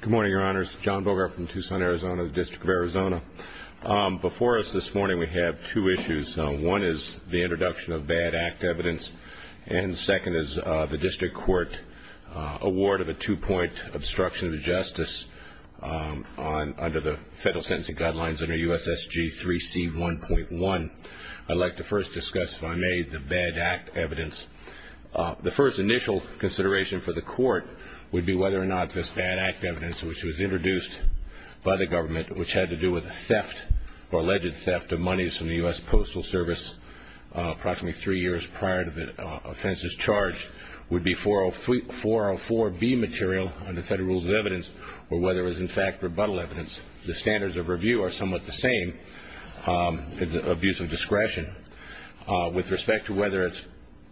Good morning, your honors. John Bogart from Tucson, Arizona, District of Arizona. Before us this morning we have two issues. One is the introduction of bad act evidence and second is the district court award of a two-point obstruction of justice under the federal sentencing guidelines under USSG 3C 1.1. I'd like to first discuss, if I may, the bad act evidence. The first initial consideration for the court would be whether or not this bad act evidence, which was introduced by the government, which had to do with the theft or alleged theft of monies from the U.S. Postal Service approximately three years prior to the offense's charge, would be 404B material under federal rules of evidence or whether it was, in fact, rebuttal evidence. The standards of review are somewhat the same. It's abuse of discretion. With respect to whether it's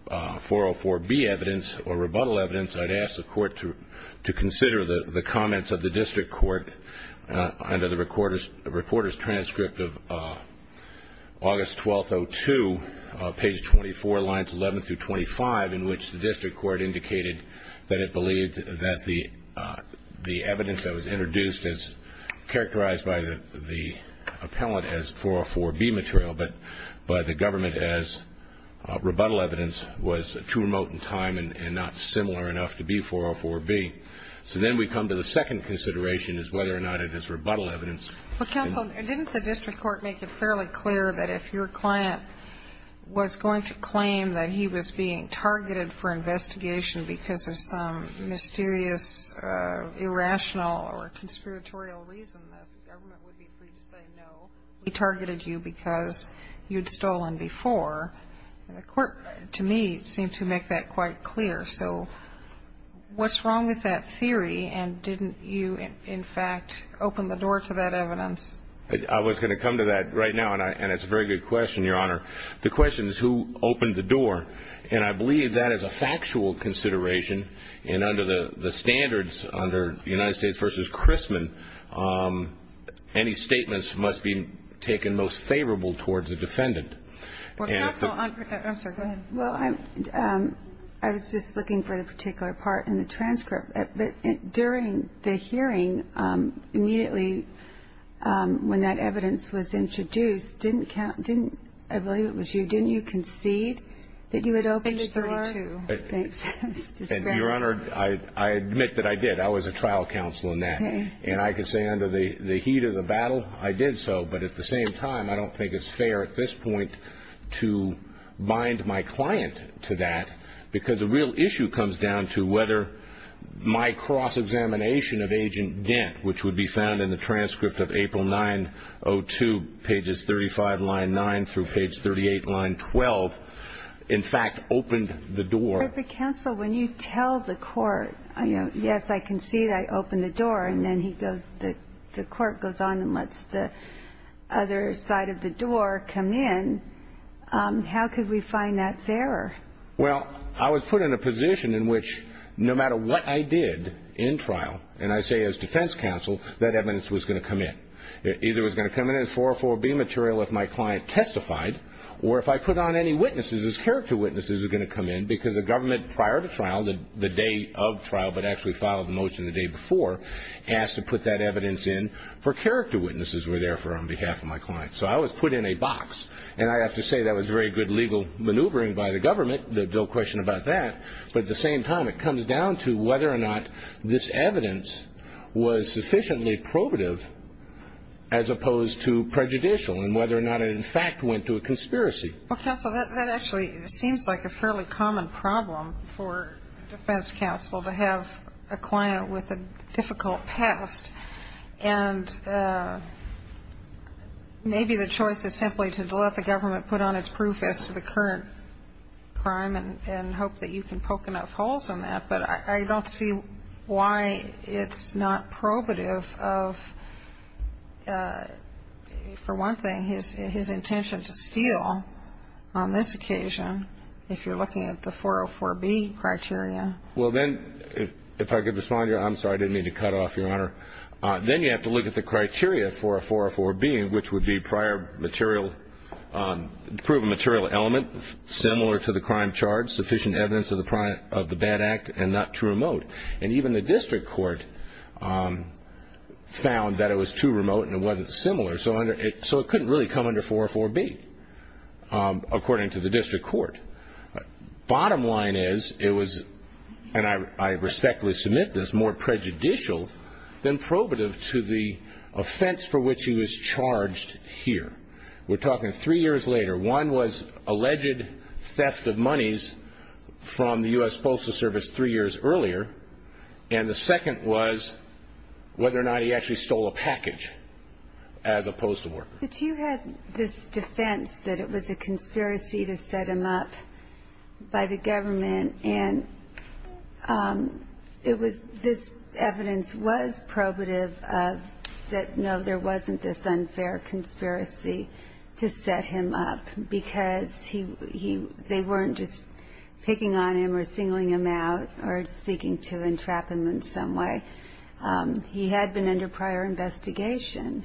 404B evidence or rebuttal evidence, I'd ask the court to consider the comments of the district court under the reporter's transcript of August 12, 2002, page 24, lines 11 through 25, in which the district court indicated that it believed that the evidence that was introduced is characterized by the appellant as 404B material but by the government as rebuttal evidence was too remote in time and not similar enough to be 404B. So then we come to the second consideration is whether or not it is rebuttal evidence. Well, counsel, didn't the district court make it fairly clear that if your client was going to claim that he was being targeted for investigation because of some mysterious, irrational or conspiratorial reason that the government would be free to say, no, we targeted you because you'd stolen before. And the court, to me, seemed to make that quite clear. So what's wrong with that theory? And didn't you, in fact, open the door to that evidence? I was going to come to that right now, and it's a very good question, Your Honor. The question is who opened the door. And I believe that is a factual consideration. And under the standards, under United States v. Chrisman, any statements must be taken most favorable towards the defendant. Counsel, I'm sorry, go ahead. Well, I was just looking for the particular part in the transcript. During the hearing, immediately when that evidence was introduced, didn't, I believe it was you, didn't you concede that you had opened the door? I did, Your Honor. Thanks. Your Honor, I admit that I did. I was a trial counsel in that. And I can say under the heat of the battle, I did so. But at the same time, I don't think it's fair at this point to bind my client to that, because the real issue comes down to whether my cross-examination of Agent Dent, which would be found in the transcript of April 9-02, pages 35, line 9, through page 38, line 12, in fact opened the door. But, counsel, when you tell the court, yes, I concede I opened the door, and then he goes and the court goes on and lets the other side of the door come in, how could we find that's error? Well, I was put in a position in which no matter what I did in trial, and I say as defense counsel, that evidence was going to come in. It either was going to come in as 404-B material if my client testified, or if I put on any witnesses as character witnesses, it was going to come in, because the government prior to trial, the day of trial, but actually filed the motion the day before, asked to put that evidence in for character witnesses were there for on behalf of my client. So I was put in a box, and I have to say that was very good legal maneuvering by the government, no question about that, but at the same time, it comes down to whether or not this evidence was sufficiently probative as opposed to prejudicial, and whether or not it in fact went to a conspiracy. Well, counsel, that actually seems like a fairly common problem for defense counsel to have a client with a difficult past, and maybe the choice is simply to let the government put on its proof as to the current crime and hope that you can poke enough holes in that, but I don't see why it's not probative of, for one thing, his intention to steal on this occasion, if you're looking at the 404-B criteria. Well then, if I could respond here, I'm sorry, I didn't mean to cut off, Your Honor, then you have to look at the criteria for a 404-B, which would be prior material, prove a material element similar to the crime charge, sufficient evidence of the bad act, and not too remote, and even the district court found that it was too remote and it wasn't similar, so it couldn't really come under 404-B, according to the district court. Bottom line is, it was, and I respectfully submit this, more prejudicial than probative to the offense for which he was charged here. We're talking three years later. One was alleged theft of monies from the U.S. Postal Service three years earlier, and the second was whether or not he actually stole a package as a postal worker. But you had this defense that it was a conspiracy to set him up by the government, and it was, this evidence was probative of that, no, there wasn't this unfair conspiracy to set him up because he, they weren't just picking on him or singling him out or seeking to entrap him in some way. He had been under prior investigation.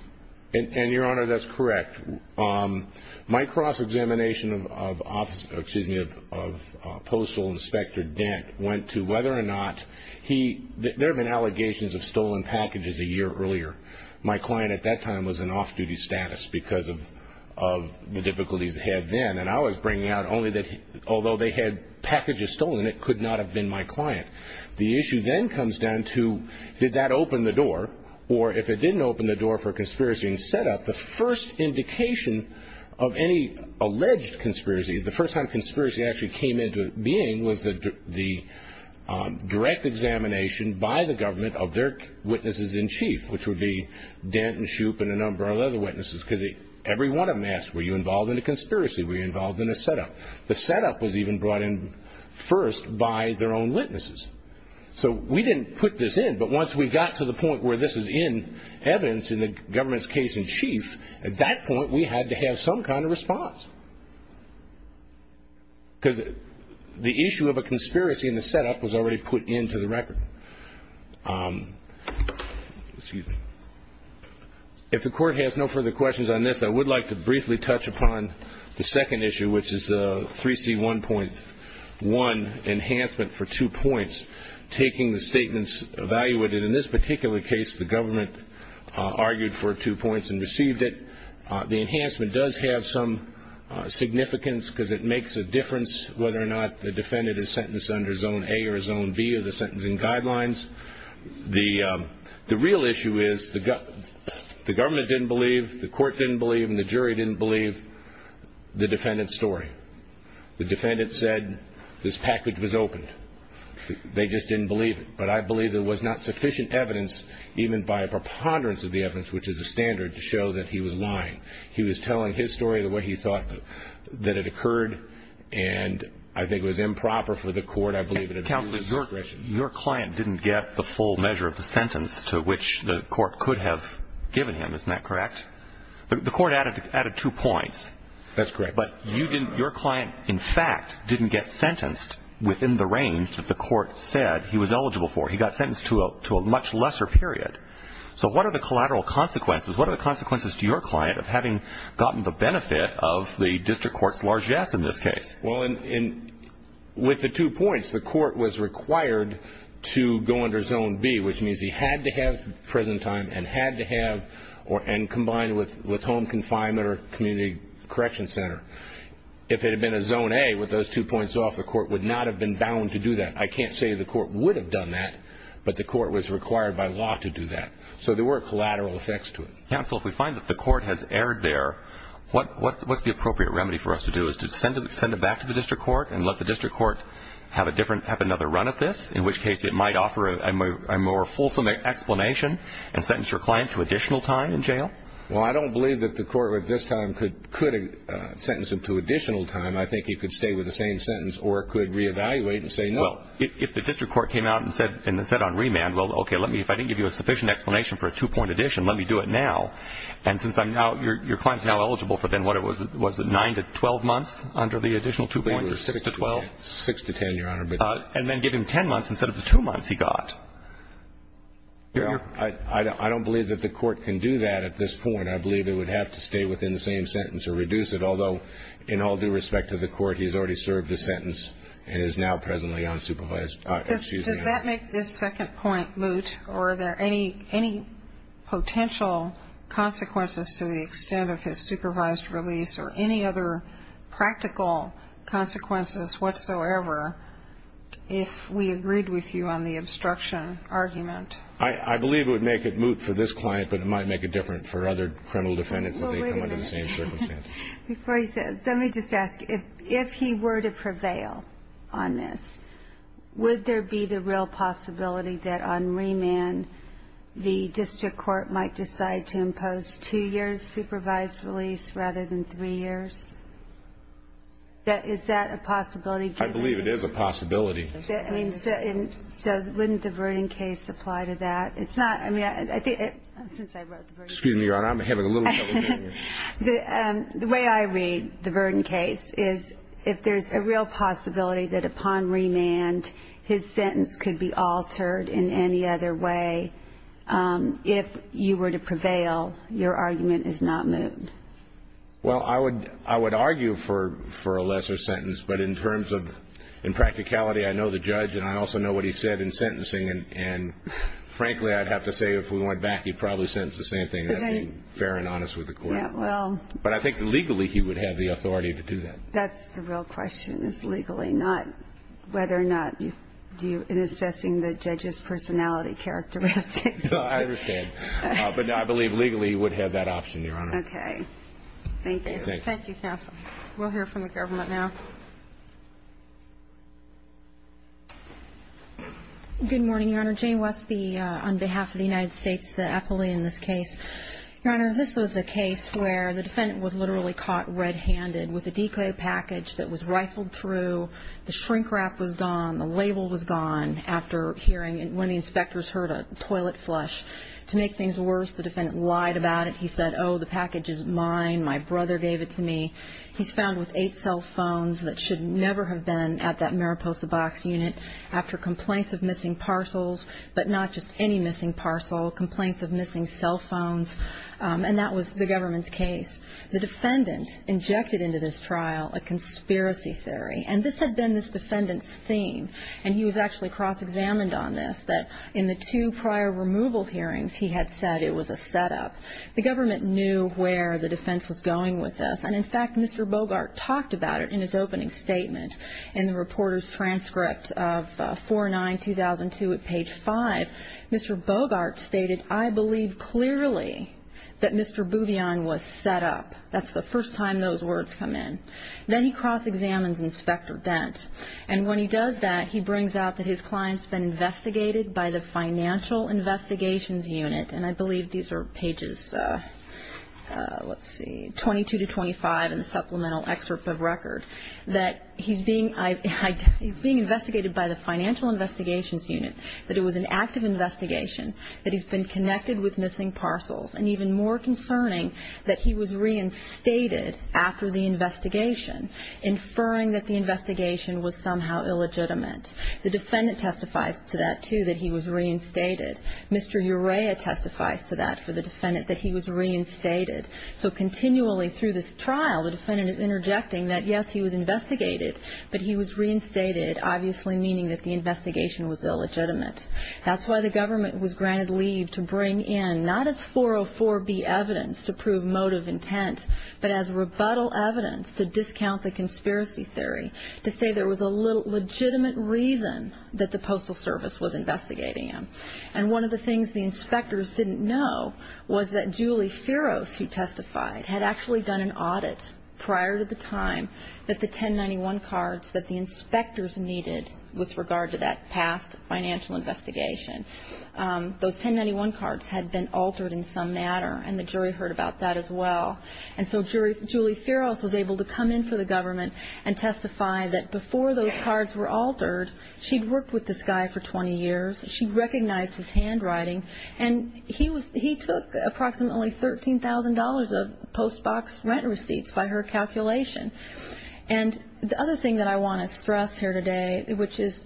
And, Your Honor, that's correct. My cross-examination of Postal Inspector Dent went to whether or not he, there have been allegations of stolen packages a year earlier. My client at that time was in off-duty status because of the difficulties he had then, and I was bringing out only that although they had packages stolen, it could not have been my client. The issue then comes down to did that open the door, or if it didn't open the door for conspiracy and set-up, the first indication of any alleged conspiracy, the first time conspiracy actually came into being was the direct examination by the government of their witnesses-in-chief, which would be Dent and Shoup and a number of other witnesses, because every one of them asked, were you involved in a conspiracy? Were you involved in a set-up? The set-up was even brought in first by their own witnesses. So we didn't put this in, but once we got to the point where this is in evidence in the government's case-in-chief, at that point we had to have some kind of response. Because the issue of a conspiracy in the set-up was already put into the record. If the Court has no further questions on this, I would like to briefly touch upon the second point, one, enhancement for two points, taking the statements evaluated. In this particular case, the government argued for two points and received it. The enhancement does have some significance because it makes a difference whether or not the defendant is sentenced under Zone A or Zone B of the sentencing guidelines. The real issue is the government didn't believe, the Court didn't believe, and the jury didn't believe the defendant's story. The defendant said this package was opened. They just didn't believe it. But I believe there was not sufficient evidence, even by a preponderance of the evidence, which is a standard, to show that he was lying. He was telling his story the way he thought that it occurred, and I think it was improper for the Court, I believe, to do this. Your client didn't get the full measure of the sentence to which the Court could have given him. Isn't that correct? The Court added two points. That's correct. But you didn't, your client, in fact, didn't get sentenced within the range that the Court said he was eligible for. He got sentenced to a much lesser period. So what are the collateral consequences? What are the consequences to your client of having gotten the benefit of the district court's largesse in this case? Well, in, with the two points, the Court was required to go under Zone B, which means he had to have, and combined with home confinement or community correction center, if it had been a Zone A with those two points off, the Court would not have been bound to do that. I can't say the Court would have done that, but the Court was required by law to do that. So there were collateral effects to it. Counsel, if we find that the Court has erred there, what's the appropriate remedy for us to do is to send it back to the district court and let the district court have a different, have another run at this, in which case it might offer a more fulfillment explanation and sentence your client to additional time in jail? Well, I don't believe that the Court at this time could sentence him to additional time. I think he could stay with the same sentence or could re-evaluate and say no. Well, if the district court came out and said on remand, well, okay, let me, if I didn't give you a sufficient explanation for a two-point addition, let me do it now. And since I'm now, your client's now eligible for then what, was it nine to 12 months under the additional two points or six to 12? Six to 10, Your Honor. And then give him 10 months instead of the two months he got. Your Honor, I don't believe that the Court can do that at this point. I believe it would have to stay within the same sentence or reduce it. Although, in all due respect to the Court, he's already served a sentence and is now presently unsupervised. Does that make this second point moot or are there any potential consequences to the extent of his supervised release or any other practical consequences whatsoever if we agreed with you on the obstruction argument? I believe it would make it moot for this client, but it might make it different for other criminal defendants if they come under the same circumstance. Before you say that, let me just ask, if he were to prevail on this, would there be the real possibility that on remand the district court might decide to impose two years' supervised release rather than three years? Is that a possibility? I believe it is a possibility. I mean, so wouldn't the Verden case apply to that? It's not – I mean, since I wrote the Verden case. Excuse me, Your Honor. I'm having a little trouble hearing you. The way I read the Verden case is if there's a real possibility that upon remand his sentence could be altered in any other way, if you were to prevail, your argument is not moot. Well, I would argue for a lesser sentence, but in terms of – in practicality, I know the judge and I also know what he said in sentencing, and frankly, I'd have to say if we went back, he'd probably sentence the same thing, and that's being fair and honest with the court. Yeah, well. But I think legally he would have the authority to do that. That's the real question, is legally, not whether or not you – in assessing the judge's personality characteristics. No, I understand. But I believe legally he would have that option, Your Honor. Okay. Thank you. Thank you. Thank you, counsel. We'll hear from the government now. Good morning, Your Honor. Jane Westby on behalf of the United States, the appellee in this case. Your Honor, this was a case where the defendant was literally caught red-handed with a decoy package that was rifled through. The shrink wrap was gone. The label was gone after hearing – when the inspectors heard a toilet flush. To make things worse, the defendant lied about it. He said, oh, the package is mine. My brother gave it to me. He's found with eight cell phones that should never have been at that Mariposa Box Unit after complaints of missing parcels, but not just any missing parcel, complaints of missing cell phones. And that was the government's case. The defendant injected into this trial a conspiracy theory. And this had been this defendant's theme. And he was actually cross-examined on this, that in the two prior removal hearings, he had said it was a setup. The government knew where the defense was going with this. And in fact, Mr. Bogart talked about it in his opening statement in the reporter's transcript of 4-9-2002 at page 5. Mr. Bogart stated, I believe clearly that Mr. Bouvian was set up. That's the first time those words come in. Then he cross-examines Inspector Dent. And when he does that, he brings out that his client's been investigated by the Financial Investigations Unit. And I believe these are pages, let's see, 22 to 25 in the supplemental excerpt of record. That he's being investigated by the Financial Investigations Unit. That it was an active investigation. That he's been connected with missing parcels. And even more concerning, that he was reinstated after the investigation, inferring that the investigation was somehow illegitimate. The defendant testifies to that, too, that he was reinstated. Mr. Urea testifies to that for the defendant, that he was reinstated. So continually through this trial, the defendant is interjecting that, yes, he was investigated, but he was reinstated, obviously meaning that the investigation was illegitimate. That's why the government was granted leave to bring in, not as 404B evidence to prove motive intent, but as rebuttal evidence to discount the conspiracy theory. To say there was a legitimate reason that the Postal Service was investigating him. And one of the things the inspectors didn't know was that Julie Feroz, who testified, had actually done an audit prior to the time that the 1091 cards that the inspectors needed with regard to that past financial investigation. Those 1091 cards had been altered in some manner, and the jury heard about that as well. And so Julie Feroz was able to come in for the government and testify that before those cards were altered, she'd worked with this guy for 20 years, she recognized his handwriting, and he took approximately $13,000 of post box rent receipts by her calculation. And the other thing that I want to stress here today, which is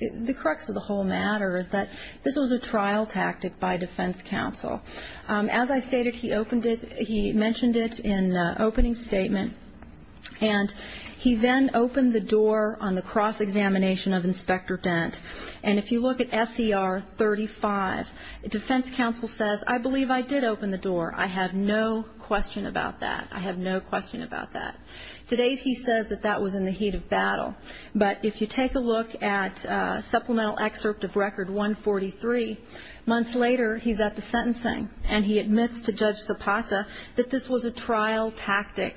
the crux of the whole matter, is that this was a trial tactic by defense counsel. As I stated, he mentioned it in the opening statement, and he then opened the door on the cross-examination of Inspector Dent. And if you look at SCR 35, defense counsel says, I believe I did open the door. I have no question about that. I have no question about that. Today he says that that was in the heat of battle. But if you take a look at supplemental excerpt of Record 143, months later he's at the trial tactic,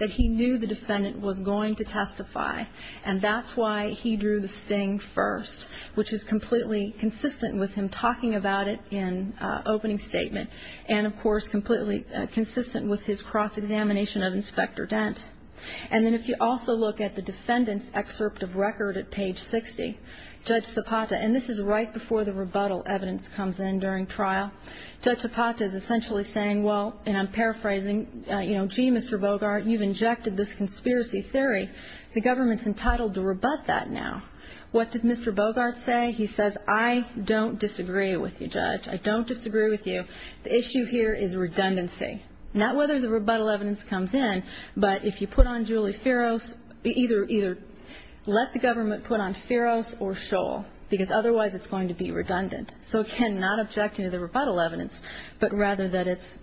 that he knew the defendant was going to testify, and that's why he drew the sting first, which is completely consistent with him talking about it in opening statement, and of course completely consistent with his cross-examination of Inspector Dent. And then if you also look at the defendant's excerpt of Record at page 60, Judge Zapata, and this is right before the rebuttal evidence comes in during trial, Judge Zapata is essentially saying, well, and I'm paraphrasing, you know, gee, Mr. Bogart, you've injected this conspiracy theory. The government's entitled to rebut that now. What did Mr. Bogart say? He says, I don't disagree with you, Judge. I don't disagree with you. The issue here is redundancy. Not whether the rebuttal evidence comes in, but if you put on Julie Feroz, either let the government put on Feroz or Scholl, because otherwise it's going to be redundant. So it cannot object to the rebuttal evidence, but rather that it's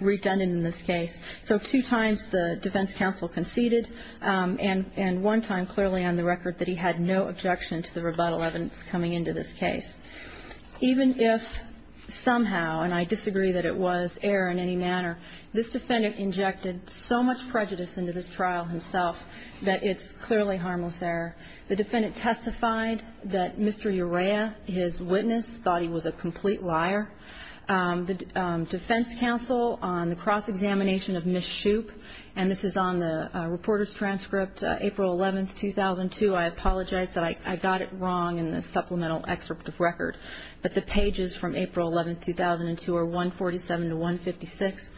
redundant in this case. So two times the defense counsel conceded, and one time clearly on the record that he had no objection to the rebuttal evidence coming into this case. Even if somehow, and I disagree that it was error in any manner, this defendant injected so much prejudice into this trial himself that it's clearly harmless error. The defendant testified that Mr. Urea, his witness, thought he was a complete liar. The defense counsel on the cross-examination of Ms. Shoup, and this is on the reporter's transcript, April 11, 2002. I apologize that I got it wrong in the supplemental excerpt of record, but the pages from April 11, 2002 are 147 to 156.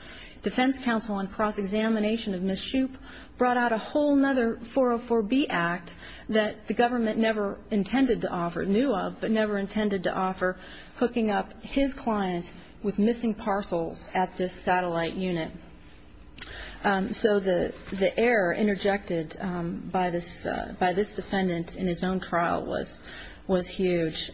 Defense counsel on cross-examination of Ms. Shoup brought out a whole nother 404B Act that the government never intended to offer, knew of, but never intended to offer, hooking up his client with missing parcels at this satellite unit. So the error interjected by this defendant in his own trial was huge.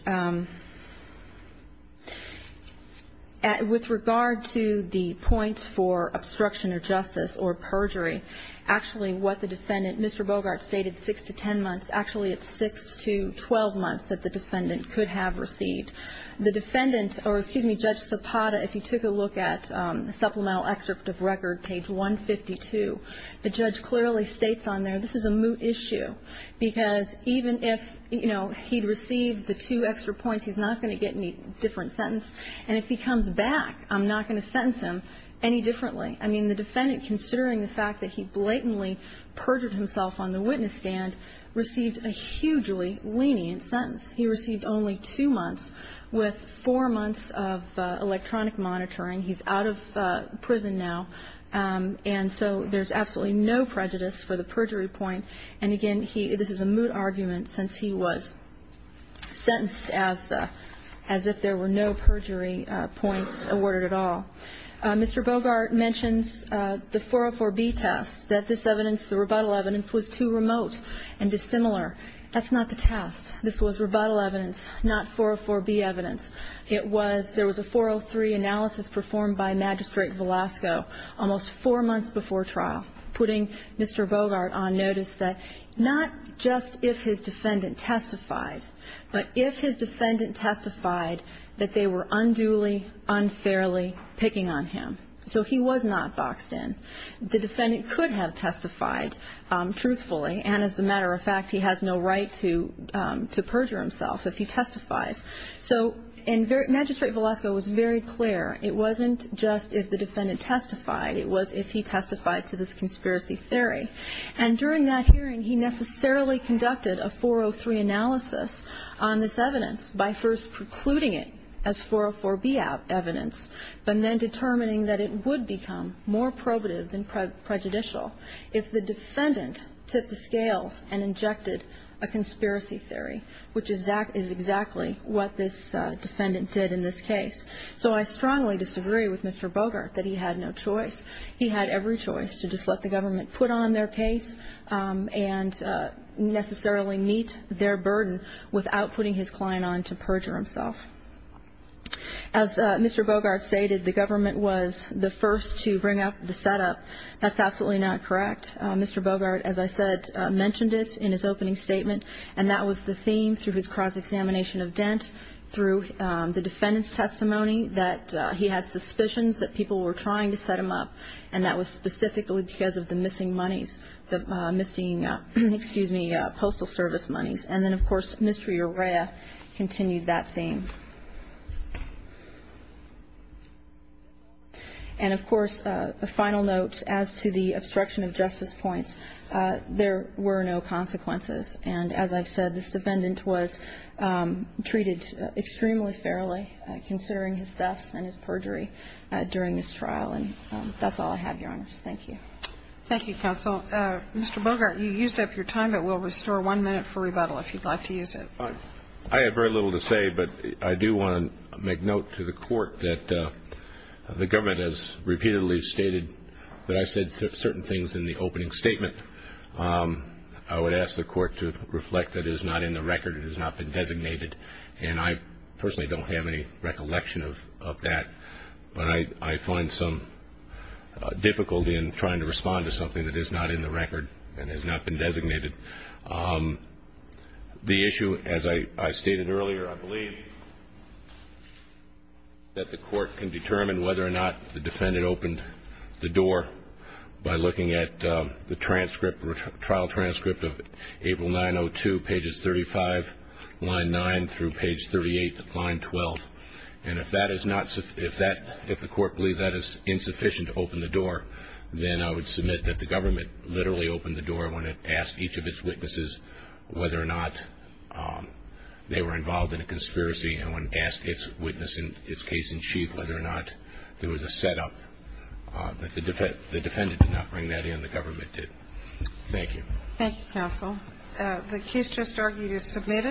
With regard to the points for obstruction of justice or perjury, actually what the defendant, Mr. Bogart, stated 6 to 10 months, actually it's 6 to 12 months that the defendant could have received. The defendant, or excuse me, Judge Sopata, if you took a look at the supplemental excerpt of record, page 152, the judge clearly states on there, this is a moot issue, because even if, you know, he'd received the two extra points, he's not going to get any different sentence, and if he comes back, I'm not going to sentence him any differently. I mean, the defendant, considering the fact that he blatantly perjured himself on the witness stand, received a hugely lenient sentence. He received only two months with four months of electronic monitoring. He's out of prison now, and so there's absolutely no prejudice for the perjury point. And again, this is a moot argument, since he was sentenced as if there were no perjury points awarded at all. Mr. Bogart mentions the 404B test, that this evidence, the rebuttal evidence, was too remote and dissimilar. That's not the test. This was rebuttal evidence, not 404B evidence. It was, there was a 403 analysis performed by Magistrate Velasco almost four months before trial, putting Mr. Bogart on notice that not just if his defendant testified, but if his defendant testified that they were unduly, unfairly picking on him. So he was not boxed in. The defendant could have testified truthfully, and as a matter of fact, he has no right to perjure himself if he testifies. So, and Magistrate Velasco was very clear. It wasn't just if the defendant testified. It was if he testified to this conspiracy theory. And during that hearing, he necessarily conducted a 403 analysis on this evidence by first precluding it as 404B evidence, but then determining that it would become more probative than prejudicial if the defendant tipped the scales and injected a conspiracy theory, which is exactly what this defendant did in this case. So I strongly disagree with Mr. Bogart that he had no choice. He had every choice to just let the government put on their case and necessarily meet their burden without putting his client on to perjure himself. As Mr. Bogart stated, the government was the first to bring up the setup. That's absolutely not correct. Mr. Bogart, as I said, mentioned it in his opening statement, and that was the theme through his cross-examination of Dent, through the defendant's testimony that he had suspicions that people were trying to set him up, and that was specifically because of the missing monies, the missing, excuse me, postal service monies. And then, of course, Mr. Urea continued that theme. And, of course, a final note as to the obstruction of justice points. There were no consequences. And as I've said, this defendant was treated extremely fairly, considering his deaths and his perjury during this trial. And that's all I have, Your Honors. Thank you. Thank you, counsel. Mr. Bogart, you used up your time, but we'll restore one minute for rebuttal if you'd like to use it. I have very little to say, but I do want to make note to the Court that the government has repeatedly stated that I said certain things in the opening statement. I would ask the Court to reflect that it is not in the record, it has not been designated, and I personally don't have any recollection of that. But I find some difficulty in trying to respond to something that is not in the As I stated earlier, I believe that the Court can determine whether or not the defendant opened the door by looking at the transcript, the trial transcript of April 902, pages 35, line 9, through page 38, line 12. And if the Court believes that is insufficient to open the door, then I would submit that the government literally opened the door when it asked each of its They were involved in a conspiracy and when asked each witness in its case in chief whether or not there was a setup, that the defendant did not bring that in, the government did. Thank you. Thank you, counsel. The case just argued is submitted.